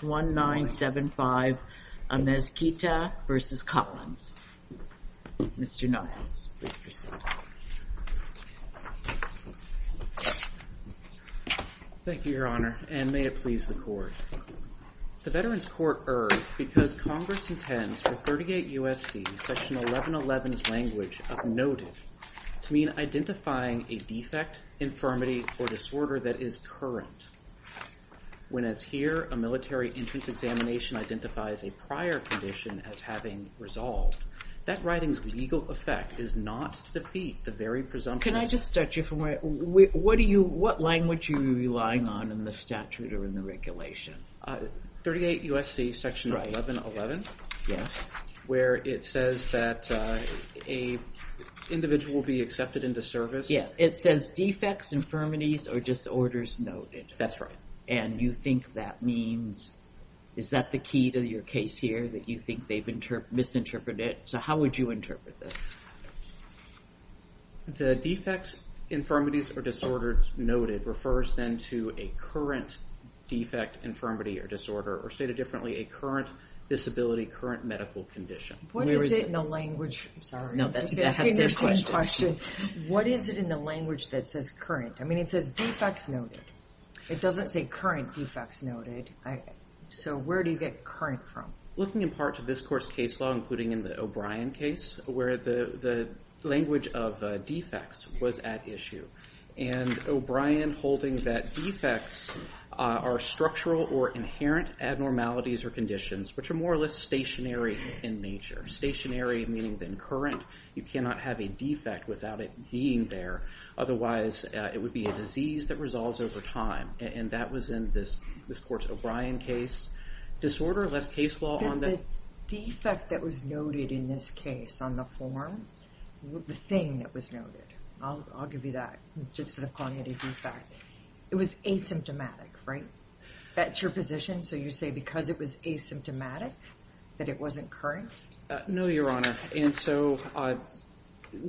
The Veterans Court erred because Congress intends for 38 U.S.C. Session 1111's language of noted to mean identifying a defect, infirmity, or disorder that is current, when as here a military entrance examination identifies a prior condition as having resolved. That writing's legal effect is not to defeat the very presumption of... Can I just start you from where, what language are you relying on in the statute or in the regulation? 38 U.S.C. Section 1111, where it says that an individual will be accepted into service. Yeah, it says defects, infirmities, or disorders noted. That's right. And you think that means, is that the key to your case here that you think they've misinterpreted it? So how would you interpret this? The defects, infirmities, or disorders noted refers then to a current defect, infirmity, or disorder, or stated differently, a current disability, current medical condition. What is it in the language, I'm sorry, I'm asking the same question, what is it in the language that says current? I mean it says defects noted. It doesn't say current defects noted. So where do you get current from? Looking in part to this court's case law, including in the O'Brien case, where the language of defects was at issue. And O'Brien holding that defects are structural or inherent abnormalities or conditions, which are more or less stationary in nature. Stationary meaning then current, you cannot have a defect without it being there. Otherwise, it would be a disease that resolves over time. And that was in this court's O'Brien case. Disorder, less case law on that. The defect that was noted in this case on the form, the thing that was noted, I'll give you that, just to call it a defect. It was asymptomatic, right? That's your position, so you say because it was asymptomatic that it wasn't current? No, Your Honor. And so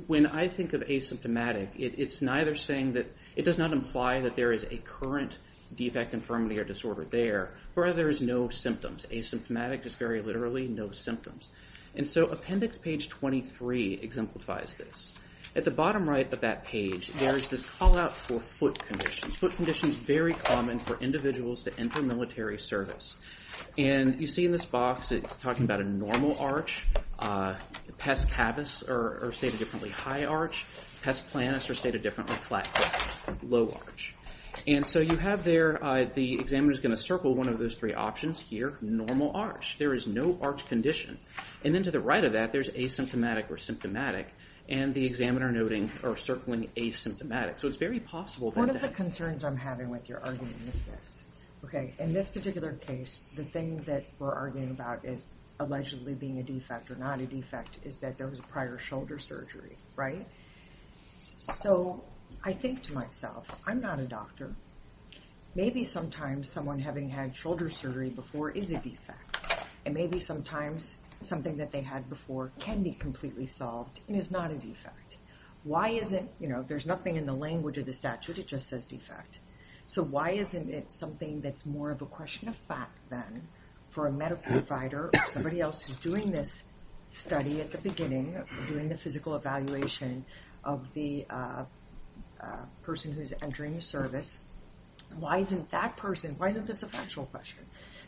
when I think of asymptomatic, it's neither saying that, it does not imply that there is a current defect, infirmity, or disorder there, or there is no symptoms. Asymptomatic is very literally no symptoms. And so appendix page 23 exemplifies this. At the bottom right of that page, there is this call out for foot conditions. Foot conditions very common for individuals to enter military service. And you see in this box, it's talking about a normal arch. Pest cavus are stated differently. High arch. Pest planus are stated differently. Flat foot. Low arch. And so you have there, the examiner is going to circle one of those three options here. Normal arch. There is no arch condition. And then to the right of that, there's asymptomatic or symptomatic. And the examiner noting, or circling asymptomatic. So it's very possible that that... One of the concerns I'm having with your argument is this. In this particular case, the thing that we're arguing about as allegedly being a defect or not a defect is that there was a prior shoulder surgery, right? So I think to myself, I'm not a doctor. Maybe sometimes someone having had shoulder surgery before is a defect. And maybe sometimes something that they had before can be completely solved and is not a defect. Why isn't... There's nothing in the language of the statute. It just says defect. So why isn't it something that's more of a question of fact then for a medical provider or somebody else who's doing this study at the beginning, doing the physical evaluation of the person who's entering the service? Why isn't that person, why isn't this a factual question?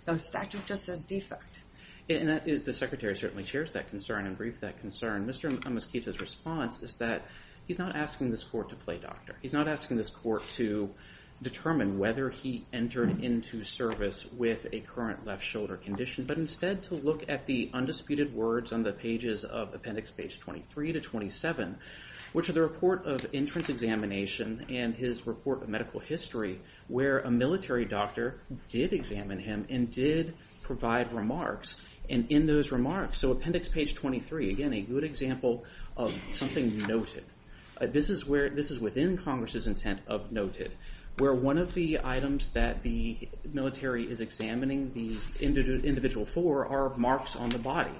The statute just says defect. The secretary certainly shares that concern and briefed that concern. Mr. Amaskita's response is that he's not asking this court to play doctor. He's not asking this court to determine whether he entered into service with a current left shoulder condition, but instead to look at the undisputed words on the pages of appendix page 23 to 27, which are the report of entrance examination and his report of medical history where a military doctor did examine him and did provide remarks. And in those remarks, so appendix page 23, again, a good example of something noted. This is within Congress's intent of noted, where one of the items that the military is examining the individual for are marks on the body.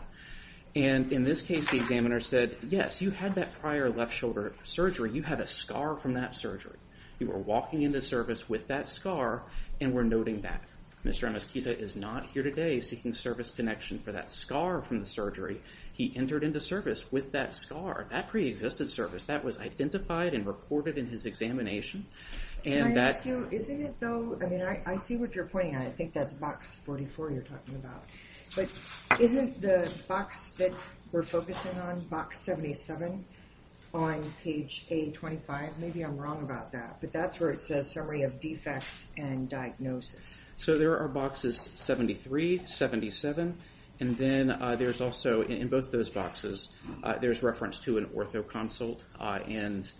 And in this case, the examiner said, yes, you had that prior left shoulder surgery. You have a scar from that surgery. You were walking into service with that scar and were noting that. Mr. Amaskita is not here today seeking service connection for that scar from the surgery. He entered into service with that scar, that pre-existent service, that was identified and reported in his examination. And that... Can I ask you, isn't it though, I mean, I see what you're pointing at. I think that's box 44 you're talking about. But isn't the box that we're focusing on, box 77 on page A25? Maybe I'm wrong about that, but that's where it says summary of defects and diagnosis. So there are boxes 73, 77, and then there's also, in both those boxes, there's reference to an ortho consult and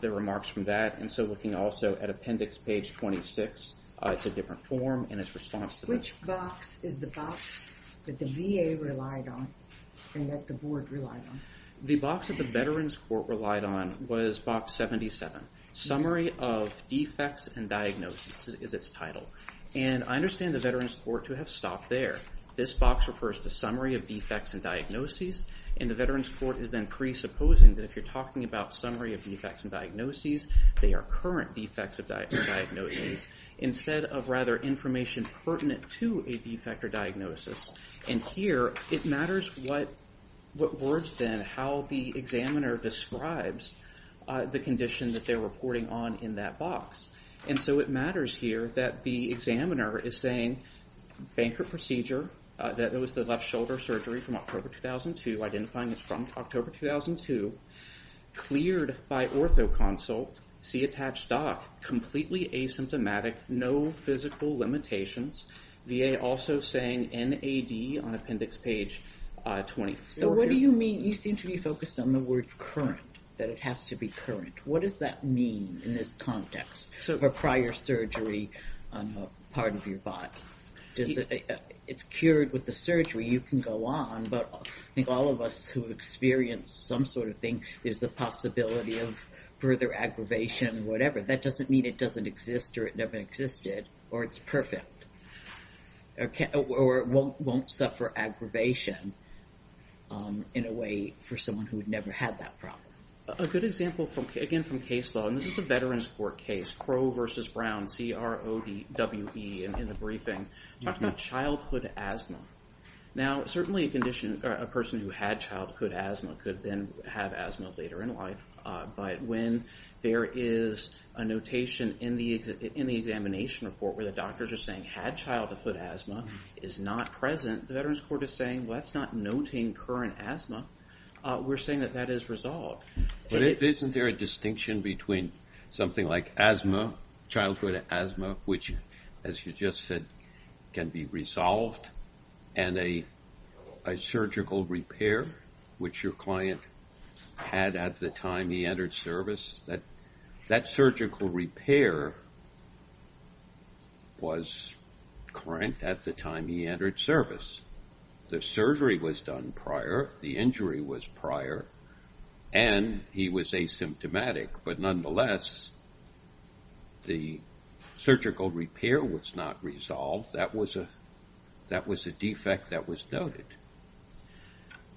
the remarks from that. And so looking also at appendix page 26, it's a different form and its response to that. Which box is the box that the VA relied on and that the board relied on? The box that the Veterans Court relied on was box 77, summary of defects and diagnosis is its title. And I understand the Veterans Court to have stopped there. This box refers to summary of defects and diagnoses. And the Veterans Court is then presupposing that if you're talking about summary of defects and diagnoses, they are current defects and diagnoses instead of rather information pertinent to a defect or diagnosis. And here it matters what words then, how the examiner describes the condition that they're reporting on in that box. And so it matters here that the examiner is saying, bankrupt procedure, that it was the left shoulder surgery from October 2002, identifying it from October 2002, cleared by ortho consult, see attached doc, completely asymptomatic, no physical limitations. VA also saying NAD on appendix page 24. So what do you mean, you seem to be focused on the word current, that it has to be current. What does that mean in this context, sort of a prior surgery on a part of your body? It's cured with the surgery, you can go on, but I think all of us who experienced some sort of thing, there's the possibility of further aggravation, whatever. That doesn't mean it doesn't exist or it never existed, or it's perfect. Or it won't suffer aggravation in a way for someone who had never had that problem. A good example, again from case law, and this is a Veterans Court case, Crow versus Brown, C-R-O-W-E in the briefing, talking about childhood asthma. Now certainly a condition, a person who had childhood asthma could then have asthma later in life, but when there is a notation in the examination report where the doctors are saying, had childhood asthma, is not present, the Veterans Court is saying, well that's not noting current asthma, we're saying that is resolved. But isn't there a distinction between something like asthma, childhood asthma, which as you just said, can be resolved, and a surgical repair, which your client had at the time he entered service, that surgical repair was current at the time he entered service. The injury was prior, and he was asymptomatic, but nonetheless, the surgical repair was not resolved. That was a defect that was noted.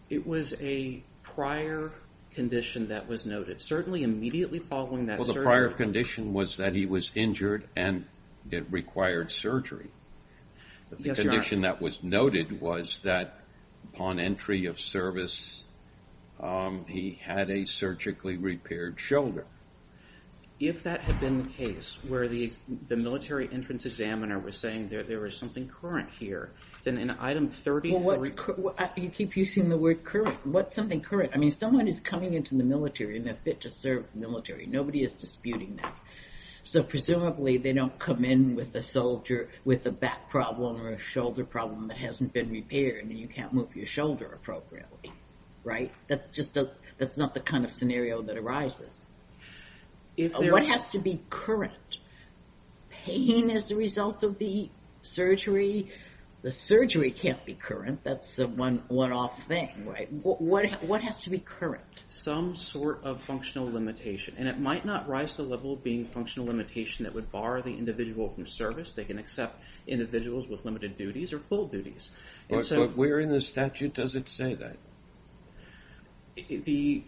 It was a prior condition that was noted, certainly immediately following that surgery. Well the prior condition was that he was injured and it required surgery, but the condition that was noted was that upon entry of service, he had a surgically repaired shoulder. If that had been the case, where the military entrance examiner was saying there was something current here, then in item 30... You keep using the word current. What's something current? Someone is coming into the military and they're fit to serve the military. Nobody is disputing that. Presumably they don't come in with a back problem or a shoulder problem that hasn't been repaired, and you can't move your shoulder appropriately. That's not the kind of scenario that arises. What has to be current? Pain is the result of the surgery. The surgery can't be current. That's a one-off thing. What has to be current? Some sort of functional limitation, and it might not rise to the level of being functional limitation that would bar the individual from service. They can accept individuals with limited duties or full duties. Where in the statute does it say that? The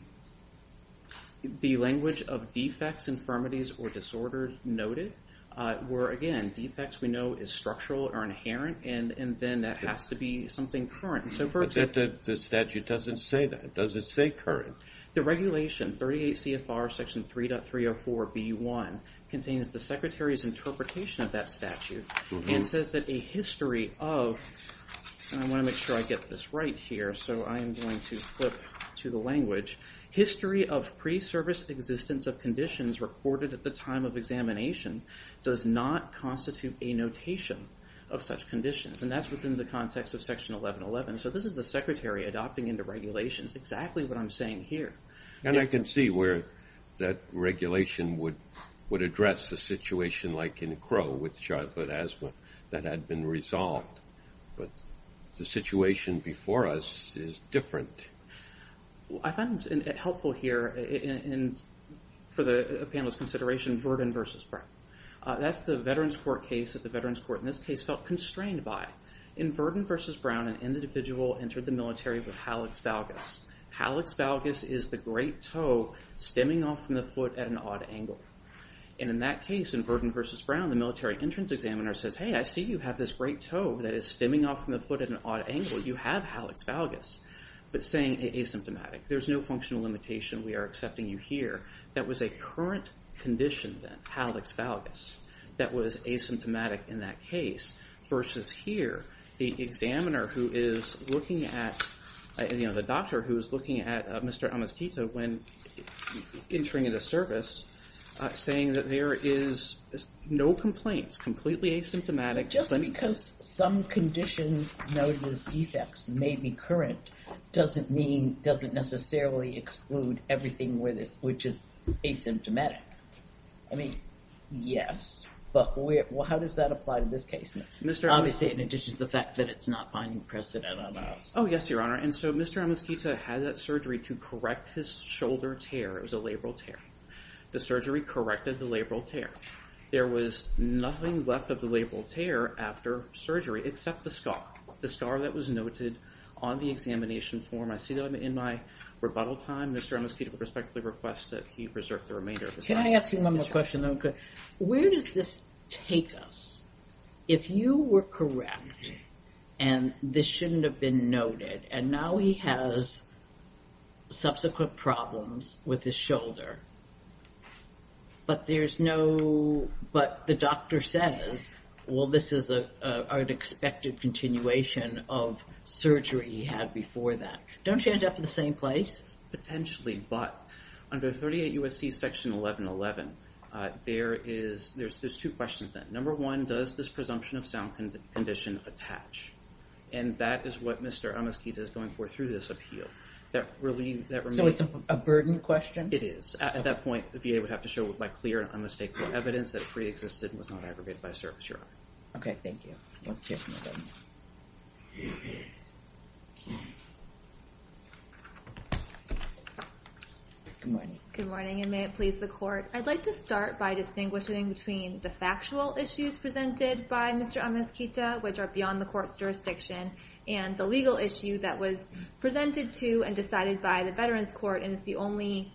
language of defects, infirmities, or disorders noted, where again, defects we know is structural or inherent, and then that has to be something current. The statute doesn't say that. Does it say current? The regulation, 38 CFR section 3.304B1, contains the Secretary's interpretation of that statute and says that a history of, and I want to make sure I get this right here, so I am going to flip to the language, history of pre-service existence of conditions recorded at the time of examination does not constitute a notation of such conditions, and that's within the context of section 1111. So this is the Secretary adopting into regulations exactly what I am saying here. And I can see where that regulation would address a situation like in Crow with childhood asthma that had been resolved, but the situation before us is different. I find it helpful here for the panel's consideration, Verdon v. Brown. That's the Veterans Court case that the Veterans Court in this case felt constrained by. In Verdon v. Brown, an individual entered the military with hallux valgus. Hallux valgus is the great toe stemming off from the foot at an odd angle. And in that case, in Verdon v. Brown, the military entrance examiner says, hey, I see you have this great toe that is stemming off from the foot at an odd angle. You have hallux valgus, but saying asymptomatic. There's no functional limitation. We are accepting you here. That was a current condition then, hallux valgus, that was asymptomatic in that case versus here, the examiner who is looking at, you know, the doctor who is looking at Mr. Amiskito when entering into service, saying that there is no complaints, completely asymptomatic. Just because some conditions noted as defects may be current doesn't mean, doesn't necessarily exclude everything which is asymptomatic. I mean, yes, but how does that apply to this case? Obviously, in addition to the fact that it's not finding precedent on us. Oh, yes, Your Honor. And so Mr. Amiskito had that surgery to correct his shoulder tear. It was a labral tear. The surgery corrected the labral tear. There was nothing left of the labral tear after surgery except the scar. The scar that was noted on the examination form. I see that in my rebuttal time, Mr. Amiskito would respectfully request that he reserve the remainder of his time. Can I ask you one more question? Where does this take us? If you were correct, and this shouldn't have been noted, and now he has subsequent problems with his shoulder, but there's no, but the doctor says, well, this is an unexpected continuation of surgery he had before that. Don't you end up in the same place? Potentially, but under 38 U.S.C. Section 1111, there's two questions there. Number one, does this presumption of sound condition attach? And that is what Mr. Amiskito is going for through this appeal. That really, that remains- So it's a burden question? It is. At that point, the VA would have to show by clear and unmistakable evidence that it pre-existed and was not aggregated by service, Your Honor. Okay, thank you. Let's hear from the defendants. Good morning. Good morning, and may it please the court. I'd like to start by distinguishing between the factual issues presented by Mr. Amiskito, which are beyond the court's jurisdiction, and the legal issue that was presented to and decided by the Veterans Court, and it's the only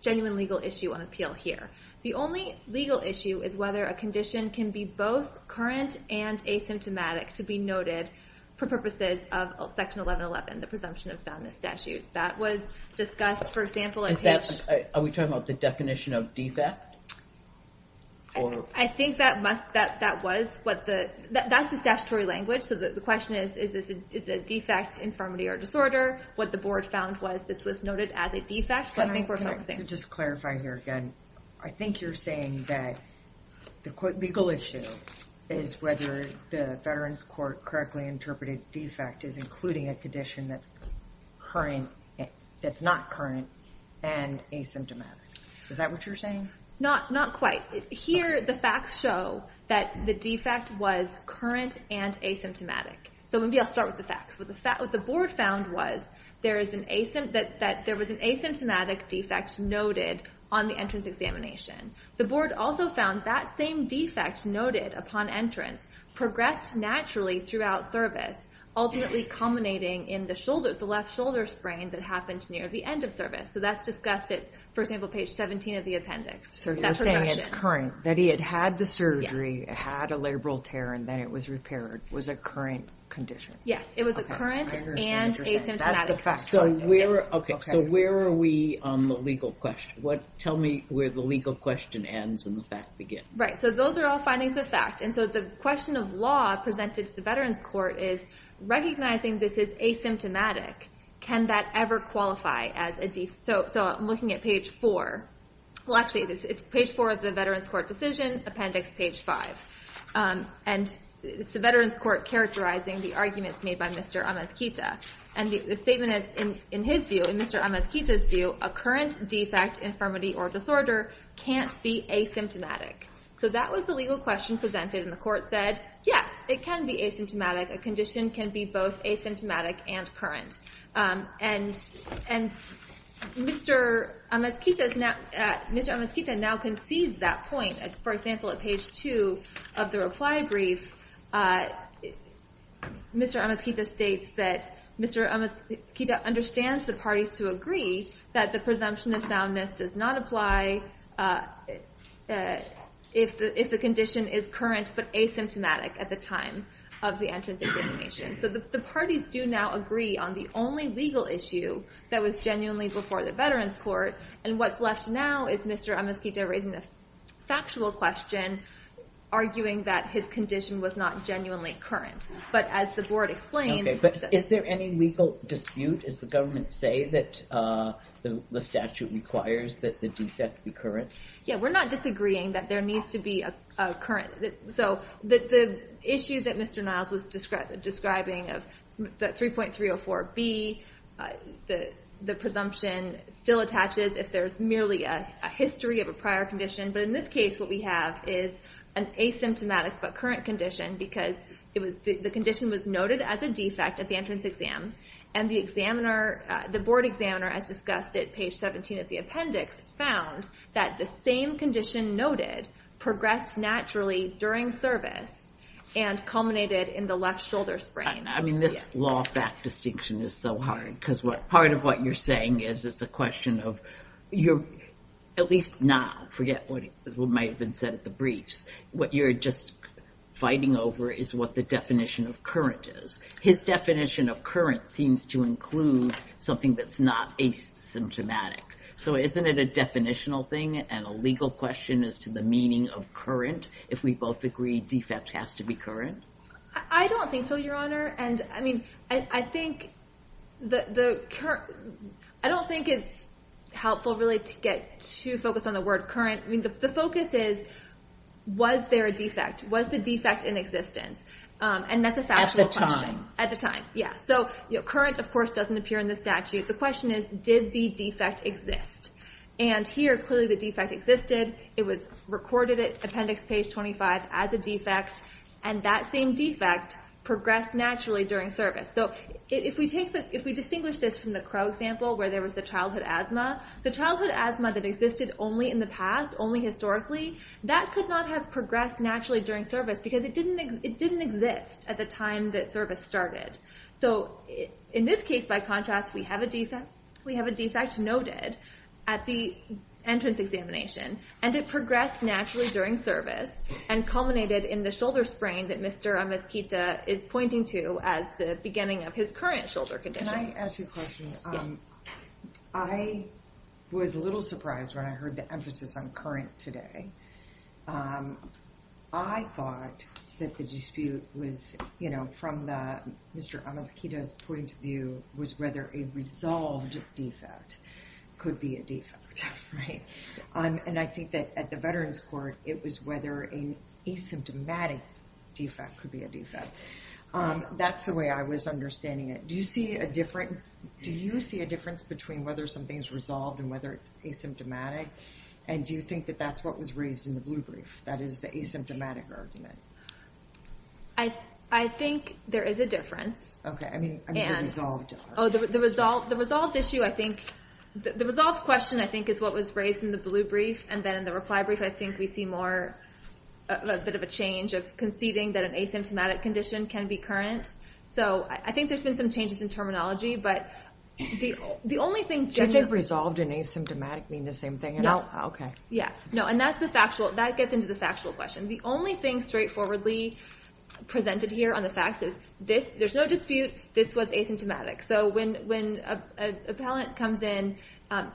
genuine legal issue on appeal here. The only legal issue is whether a condition can be both current and asymptomatic to be noted for purposes of Section 1111, the presumption of sound misstatute. That was discussed, for example- Are we talking about the definition of defect? I think that must, that was what the, that's the statutory language. So the question is, is this a defect, infirmity, or disorder? What the board found was this was noted as a defect. Can I just clarify here again? I think you're saying that the legal issue is whether the Veterans Court correctly interpreted defect as including a condition that's current, that's not current, and asymptomatic. Is that what you're saying? Not quite. Here, the facts show that the defect was current and asymptomatic. So maybe I'll start with the facts. What the board found was that there was an asymptomatic defect noted on the entrance examination. The board also found that same defect noted upon entrance progressed naturally throughout service, ultimately culminating in the shoulder, the left shoulder sprain that happened near the end of service. So that's discussed at, for example, page 17 of the appendix. So you're saying it's current, that he had had the surgery, had a labral tear, and then it was repaired, was a current condition. Yes, it was a current and asymptomatic. So where are we on the legal question? Tell me where the legal question ends and the fact begins. Right. So those are all findings of fact. And so the question of law presented to the Veterans Court is, recognizing this is asymptomatic, can that ever qualify as a defect? So I'm looking at page 4. Well, actually, it's page 4 of the Veterans Court decision, appendix page 5. And it's the Veterans Court characterizing the arguments made by Mr. Amaskita. And the statement is, in his view, in Mr. Amaskita's view, a current defect, infirmity, or disorder can't be asymptomatic. So that was the legal question presented. And the court said, yes, it can be asymptomatic. A condition can be both asymptomatic and current. And Mr. Amaskita now concedes that point. For example, at page 2 of the reply brief, Mr. Amaskita states that Mr. Amaskita understands the parties to agree that the presumption of soundness does not apply if the condition is current but asymptomatic at the time of the entrance examination. So the parties do now agree on the only legal issue that was genuinely before the Veterans Court. And what's left now is Mr. Amaskita raising the factual question, arguing that his condition was not genuinely current. But as the board explained... OK, but is there any legal dispute? Does the government say that the statute requires that the defect be current? Yeah, we're not disagreeing that there needs to be a current... So the issue that Mr. Niles was describing of the 3.304B, the presumption still attaches if there's merely a history of a prior condition. But in this case, what we have is an asymptomatic but current condition because the condition was noted as a defect at the entrance exam. And the board examiner, as discussed at page 17 of the appendix, found that the same condition noted progressed naturally during service and culminated in the left shoulder sprain. I mean, this law fact distinction is so hard because part of what you're saying is it's a question of, at least now, forget what might have been said at the briefs. What you're just fighting over is what the definition of current is. His definition of current seems to include something that's not asymptomatic. So isn't it a definitional thing and a legal question as to the meaning of current? If we both agree defect has to be current? I don't think so, Your Honor. And I mean, I don't think it's helpful, really, to get too focused on the word current. I mean, the focus is, was there a defect? Was the defect in existence? And that's a factual question. At the time, yeah. So current, of course, doesn't appear in the statute. The question is, did the defect exist? And here, clearly, the defect existed. It was recorded at appendix page 25 as a defect. And that same defect progressed naturally during service. So if we distinguish this from the Crow example, where there was a childhood asthma, the childhood asthma that existed only in the past, only historically, that could not have progressed naturally during service because it didn't exist at the time that service started. So in this case, by contrast, we have a defect noted at the entrance examination. And it progressed naturally during service and culminated in the shoulder sprain that Mr. Amaskita is pointing to as the beginning of his current shoulder condition. Can I ask you a question? I was a little surprised when I heard the emphasis on current today. I thought that the dispute was, you know, from Mr. Amaskita's point of view, was whether a resolved defect could be a defect, right? And I think that at the Veterans Court, it was whether an asymptomatic defect could be a defect. That's the way I was understanding it. Do you see a difference between whether something's resolved and whether it's asymptomatic? And do you think that that's what was raised in the blue brief? That is the asymptomatic argument. I think there is a difference. Okay. I mean, the resolved issue, I think... The resolved question, I think, is what was raised in the blue brief. And then in the reply brief, I think we see more of a bit of a change of conceding that an asymptomatic condition can be current. So I think there's been some changes in terminology. But the only thing... Did the resolved and asymptomatic mean the same thing at all? Okay. Yeah. No. And that's the factual... That gets into the factual question. The only thing straightforwardly presented here on the facts is this... There's no dispute. This was asymptomatic. So when an appellant comes in,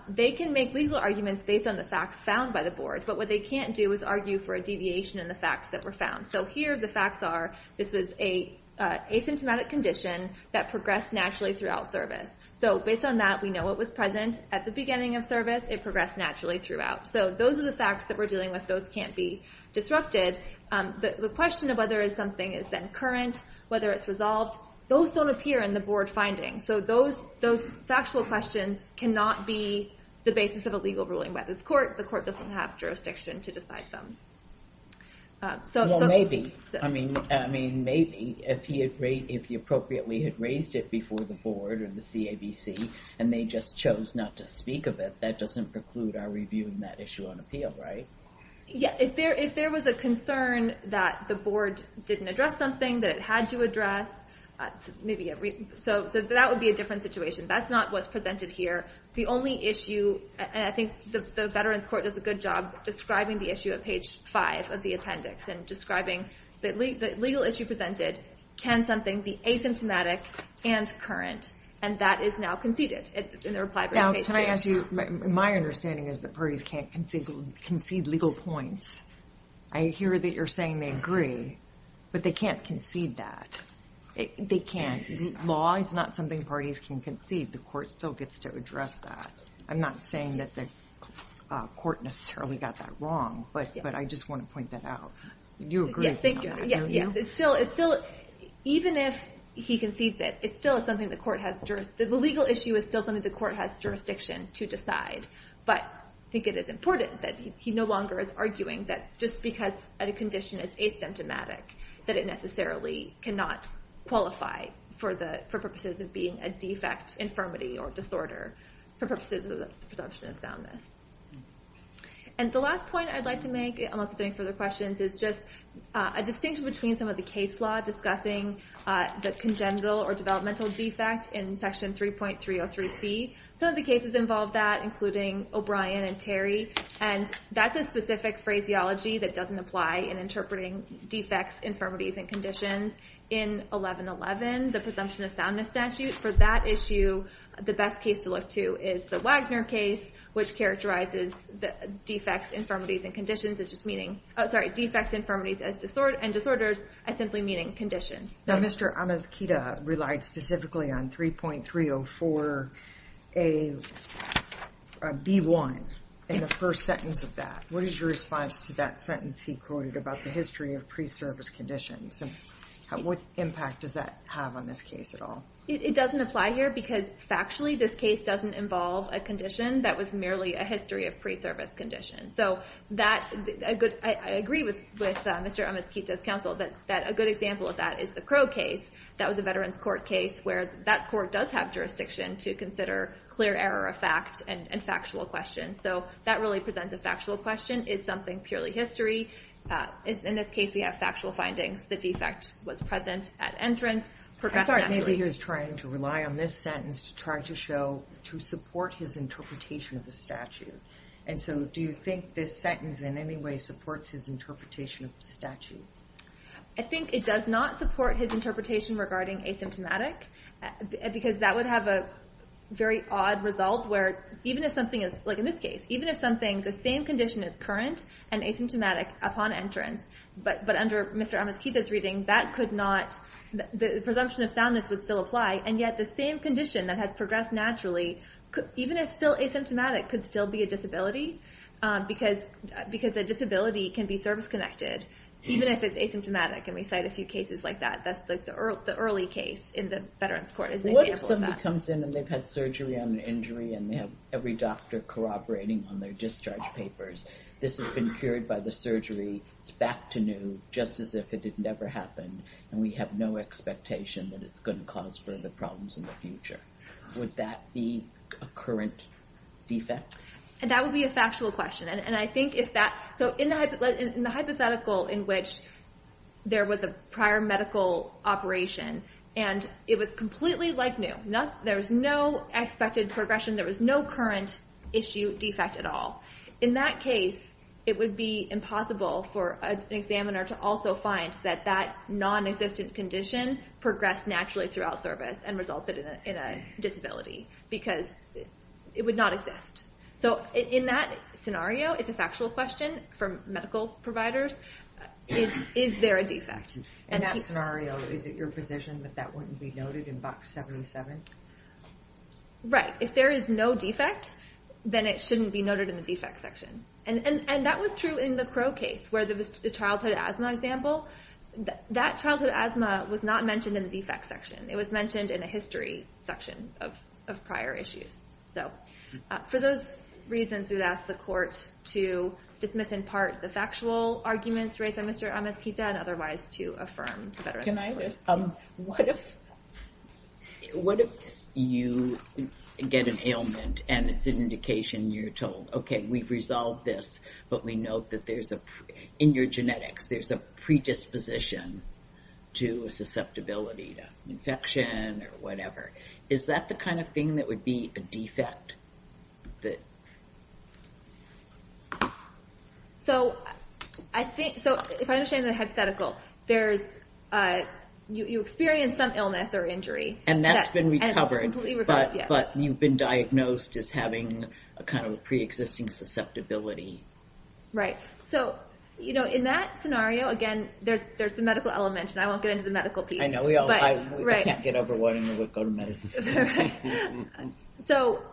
they can make legal arguments based on the facts found by the board. But what they can't do is argue for a deviation in the facts that were found. So here, the facts are, this was an asymptomatic condition that progressed naturally throughout service. So based on that, we know it was present at the beginning of service. It progressed naturally throughout. So those are the facts that we're dealing with. Those can't be disrupted. The question of whether something is then current, whether it's resolved, those don't appear in the board findings. So those factual questions cannot be the basis of a legal ruling by this court. The court doesn't have jurisdiction to decide them. Well, maybe. I mean, maybe, if he appropriately had raised it before the board or the CABC, and they just chose not to speak of it, that doesn't preclude our reviewing that issue on appeal, right? Yeah. If there was a concern that the board didn't address something that it had to address, maybe a reason. So that would be a different situation. That's not what's presented here. The only issue, and I think the Veterans Court does a good job describing the issue at page 5 of the appendix, and describing the legal issue presented, can something be asymptomatic and current? And that is now conceded in the reply. Now, can I ask you, my understanding is that parties can't concede legal points. I hear that you're saying they agree, but they can't concede that. They can't. Law is not something parties can concede. The court still gets to address that. I'm not saying that the court necessarily got that wrong, but I just want to point that out. You agree with me on that, don't you? Yes, yes. It's still, even if he concedes it, it's still something the court has jurisdiction, the legal issue is still something the court has jurisdiction to decide. But I think it is important that he no longer is arguing that just because a condition is asymptomatic, that it necessarily cannot qualify for purposes of being a defect, infirmity, or disorder, for purposes of the presumption of soundness. And the last point I'd like to make, unless there's any further questions, is just a distinction between some of the case law discussing the congenital or developmental defect in section 3.303C. Some of the cases involve that, including O'Brien and Terry, and that's a specific phraseology that doesn't apply in interpreting defects, infirmities, and conditions. In 1111, the presumption of soundness statute, for that issue, the best case to look to is the Wagner case, which characterizes defects, infirmities, and disorders as simply meaning conditions. Now, Mr. Amaskita relied specifically on 3.304B1 in the first sentence of that. What is your response to that sentence he quoted about the history of pre-service conditions, and what impact does that have on this case at all? It doesn't apply here because, factually, this case doesn't involve a condition that was merely a history of pre-service conditions. So I agree with Mr. Amaskita's counsel that a good example of that is the Crow case. That was a Veterans Court case where that court does have jurisdiction to consider clear error of fact and factual questions. So that really presents a factual question. Is something purely history? In this case, we have factual findings. The defect was present at entrance. I thought maybe he was trying to rely on this sentence to try to show, to support his interpretation of the statute. And so do you think this sentence in any way supports his interpretation of the statute? I think it does not support his interpretation regarding asymptomatic because that would have a very odd result where even if something is, like in this case, even if something, the same condition is current and asymptomatic upon entrance, but under Mr. Amaskita's reading, that could not, the presumption of soundness would still apply. And yet the same condition that has progressed naturally, even if still asymptomatic, could still be a disability because a disability can be service-connected even if it's asymptomatic. And we cite a few cases like that. That's the early case in the Veterans Court is an example of that. A patient comes in and they've had surgery on an injury and they have every doctor cooperating on their discharge papers. This has been cured by the surgery. It's back to new, just as if it had never happened. And we have no expectation that it's going to cause further problems in the future. Would that be a current defect? And that would be a factual question. And I think if that, so in the hypothetical in which there was a prior medical operation and it was completely like new, there was no expected progression. There was no current issue defect at all. In that case, it would be impossible for an examiner to also find that that non-existent condition progressed naturally throughout service and resulted in a disability because it would not exist. So in that scenario, it's a factual question for medical providers. Is there a defect? In that scenario, is it your position that that wouldn't be noted in box 77? Right. If there is no defect, then it shouldn't be noted in the defect section. And that was true in the Crow case where there was the childhood asthma example. That childhood asthma was not mentioned in the defect section. It was mentioned in a history section of prior issues. So for those reasons, we would ask the court to dismiss in part the factual arguments raised by Mr. Amespita and otherwise to affirm the veteran's support. Can I just, what if you get an ailment and it's an indication you're told, okay, we've resolved this, but we note that there's a, in your genetics, there's a predisposition to a susceptibility to infection or whatever. Is that the kind of thing that would be a defect? That. So I think, so if I understand that hypothetical, there's, you experienced some illness or injury. And that's been recovered. But you've been diagnosed as having a kind of preexisting susceptibility. Right. So, you know, in that scenario, again, there's the medical element and I won't get into the medical piece. I know we all, I can't get over wanting to go to medicine. Right. So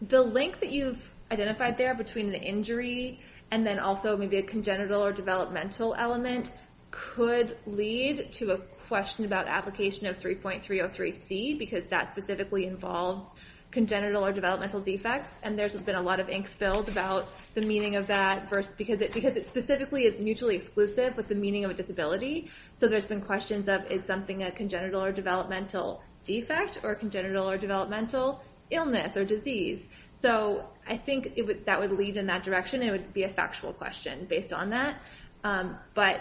the link that you've identified there between the injury and then also maybe a congenital or developmental element could lead to a question about application of 3.303C, because that specifically involves congenital or developmental defects. And there's been a lot of ink spilled about the meaning of that versus, because it specifically is mutually exclusive with the meaning of a disability. So there's been questions of, is something a congenital or developmental defect or congenital or developmental illness or disease? So I think that would lead in that direction. It would be a factual question based on that. But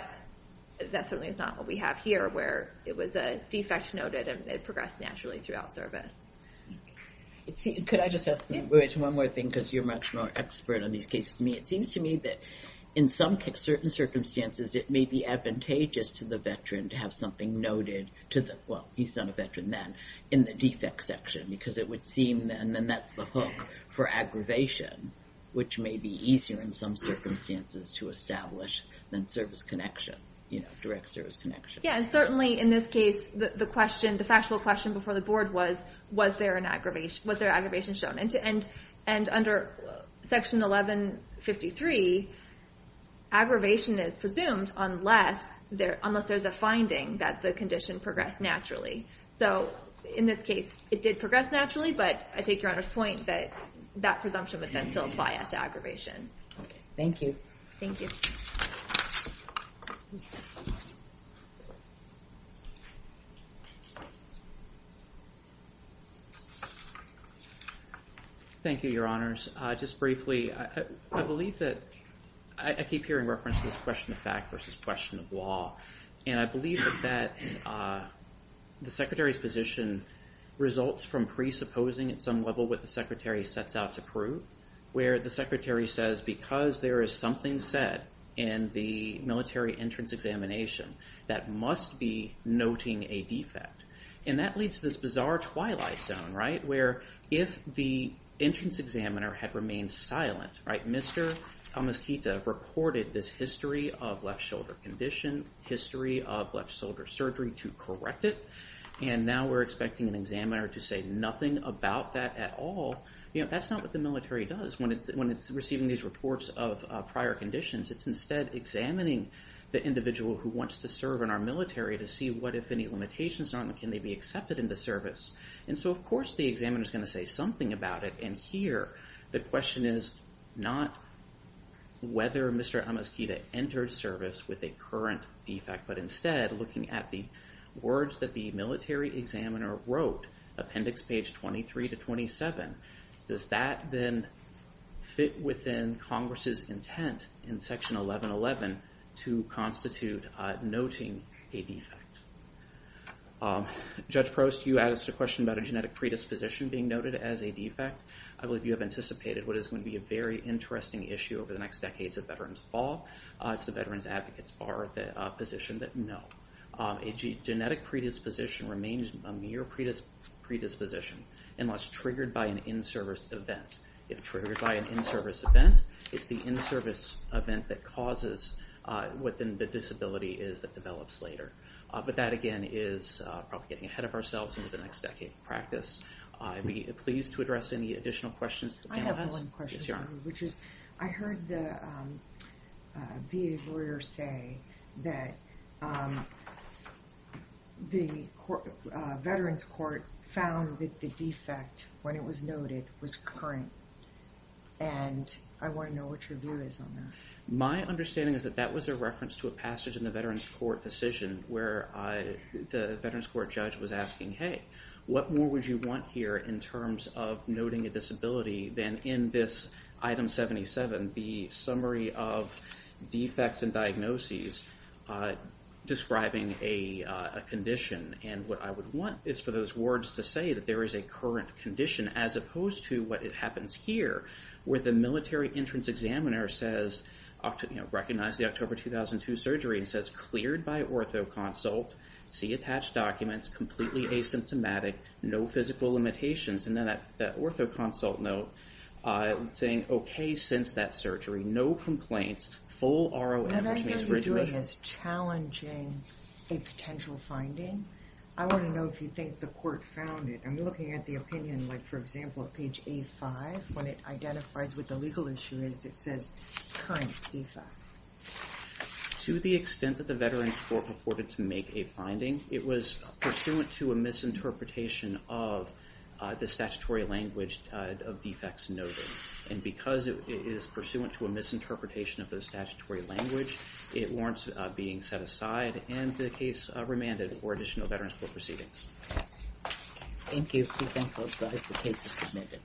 that certainly is not what we have here, where it was a defect noted and it progressed naturally throughout service. Could I just ask one more thing? Because you're much more expert on these cases than me. It seems to me that in some certain circumstances, it may be advantageous to the veteran to have something noted to the, well, he's not a veteran then, in the defect section, because it would seem, and then that's the hook for aggravation, which may be easier in some circumstances to establish than service connection, direct service connection. Yeah. And certainly in this case, the question, the factual question before the board was, was there an aggravation, was there aggravation shown? And under section 1153, aggravation is presumed unless there's a finding that the condition progressed naturally. So in this case, it did progress naturally, but I take your Honor's point that that presumption would then still apply as to aggravation. Thank you. Thank you. Thank you, Your Honors. Just briefly, I believe that, I keep hearing references, question of fact versus question of law. And I believe that the Secretary's position results from presupposing at some level what the Secretary sets out to prove, where the Secretary says, because there is something said in the military entrance examination, that must be noting a defect. And that leads to this bizarre twilight zone, right, where if the entrance examiner had remained silent, right, Mr. Amiskita reported this history of left shoulder condition, history of left shoulder surgery to correct it, and now we're expecting an examiner to say nothing about that at all, that's not what the military does when it's receiving these reports of prior conditions. It's instead examining the individual who wants to serve in our military to see what if any limitations are and can they be accepted into service. And so, of course, the examiner is going to say something about it. And here, the question is not whether Mr. Amiskita entered service with a current defect, but instead looking at the words that the military examiner wrote, appendix page 23 to 27. Does that then fit within Congress's intent in section 1111 to constitute noting a defect? Judge Prost, you asked a question about a genetic predisposition being noted as a defect. I believe you have anticipated what is going to be a very interesting issue over the next decades of Veterans Law, it's the Veterans Advocates Bar, the position that no, a genetic predisposition remains a mere predisposition unless triggered by an in-service event. If triggered by an in-service event, it's the in-service event that causes what then the disability is that develops later. But that, again, is probably getting ahead of ourselves over the next decade of practice. I'd be pleased to address any additional questions that the panel has. I have one question, which is I heard the VA lawyer say that the Veterans Court found that the defect, when it was noted, was current. And I want to know what your view is on that. My understanding is that that was a reference to a passage in the Veterans Court decision where the Veterans Court judge was asking, hey, what more would you want here in terms of noting a disability than in this item 77, the summary of defects and diagnoses describing a condition? And what I would want is for those words to say that there is a current condition as opposed to what happens here where the military entrance examiner says, you know, recognize the October 2002 surgery and says, cleared by orthoconsult, see attached documents, completely asymptomatic, no physical limitations. And then that orthoconsult note saying, OK, since that surgery, no complaints, full ROA, which means rigid ritual. What I hear you doing is challenging a potential finding. I want to know if you think the court found it. I'm looking at the opinion, like, for example, at page A5, when it identifies what the legal issue is, it says current defect. To the extent that the Veterans Court afforded to make a finding, it was pursuant to a misinterpretation of the statutory language of defects noted. And because it is pursuant to a misinterpretation of the statutory language, it warrants being set aside and the case remanded for additional Veterans Court proceedings. Thank you. We thank both sides. The case is submitted.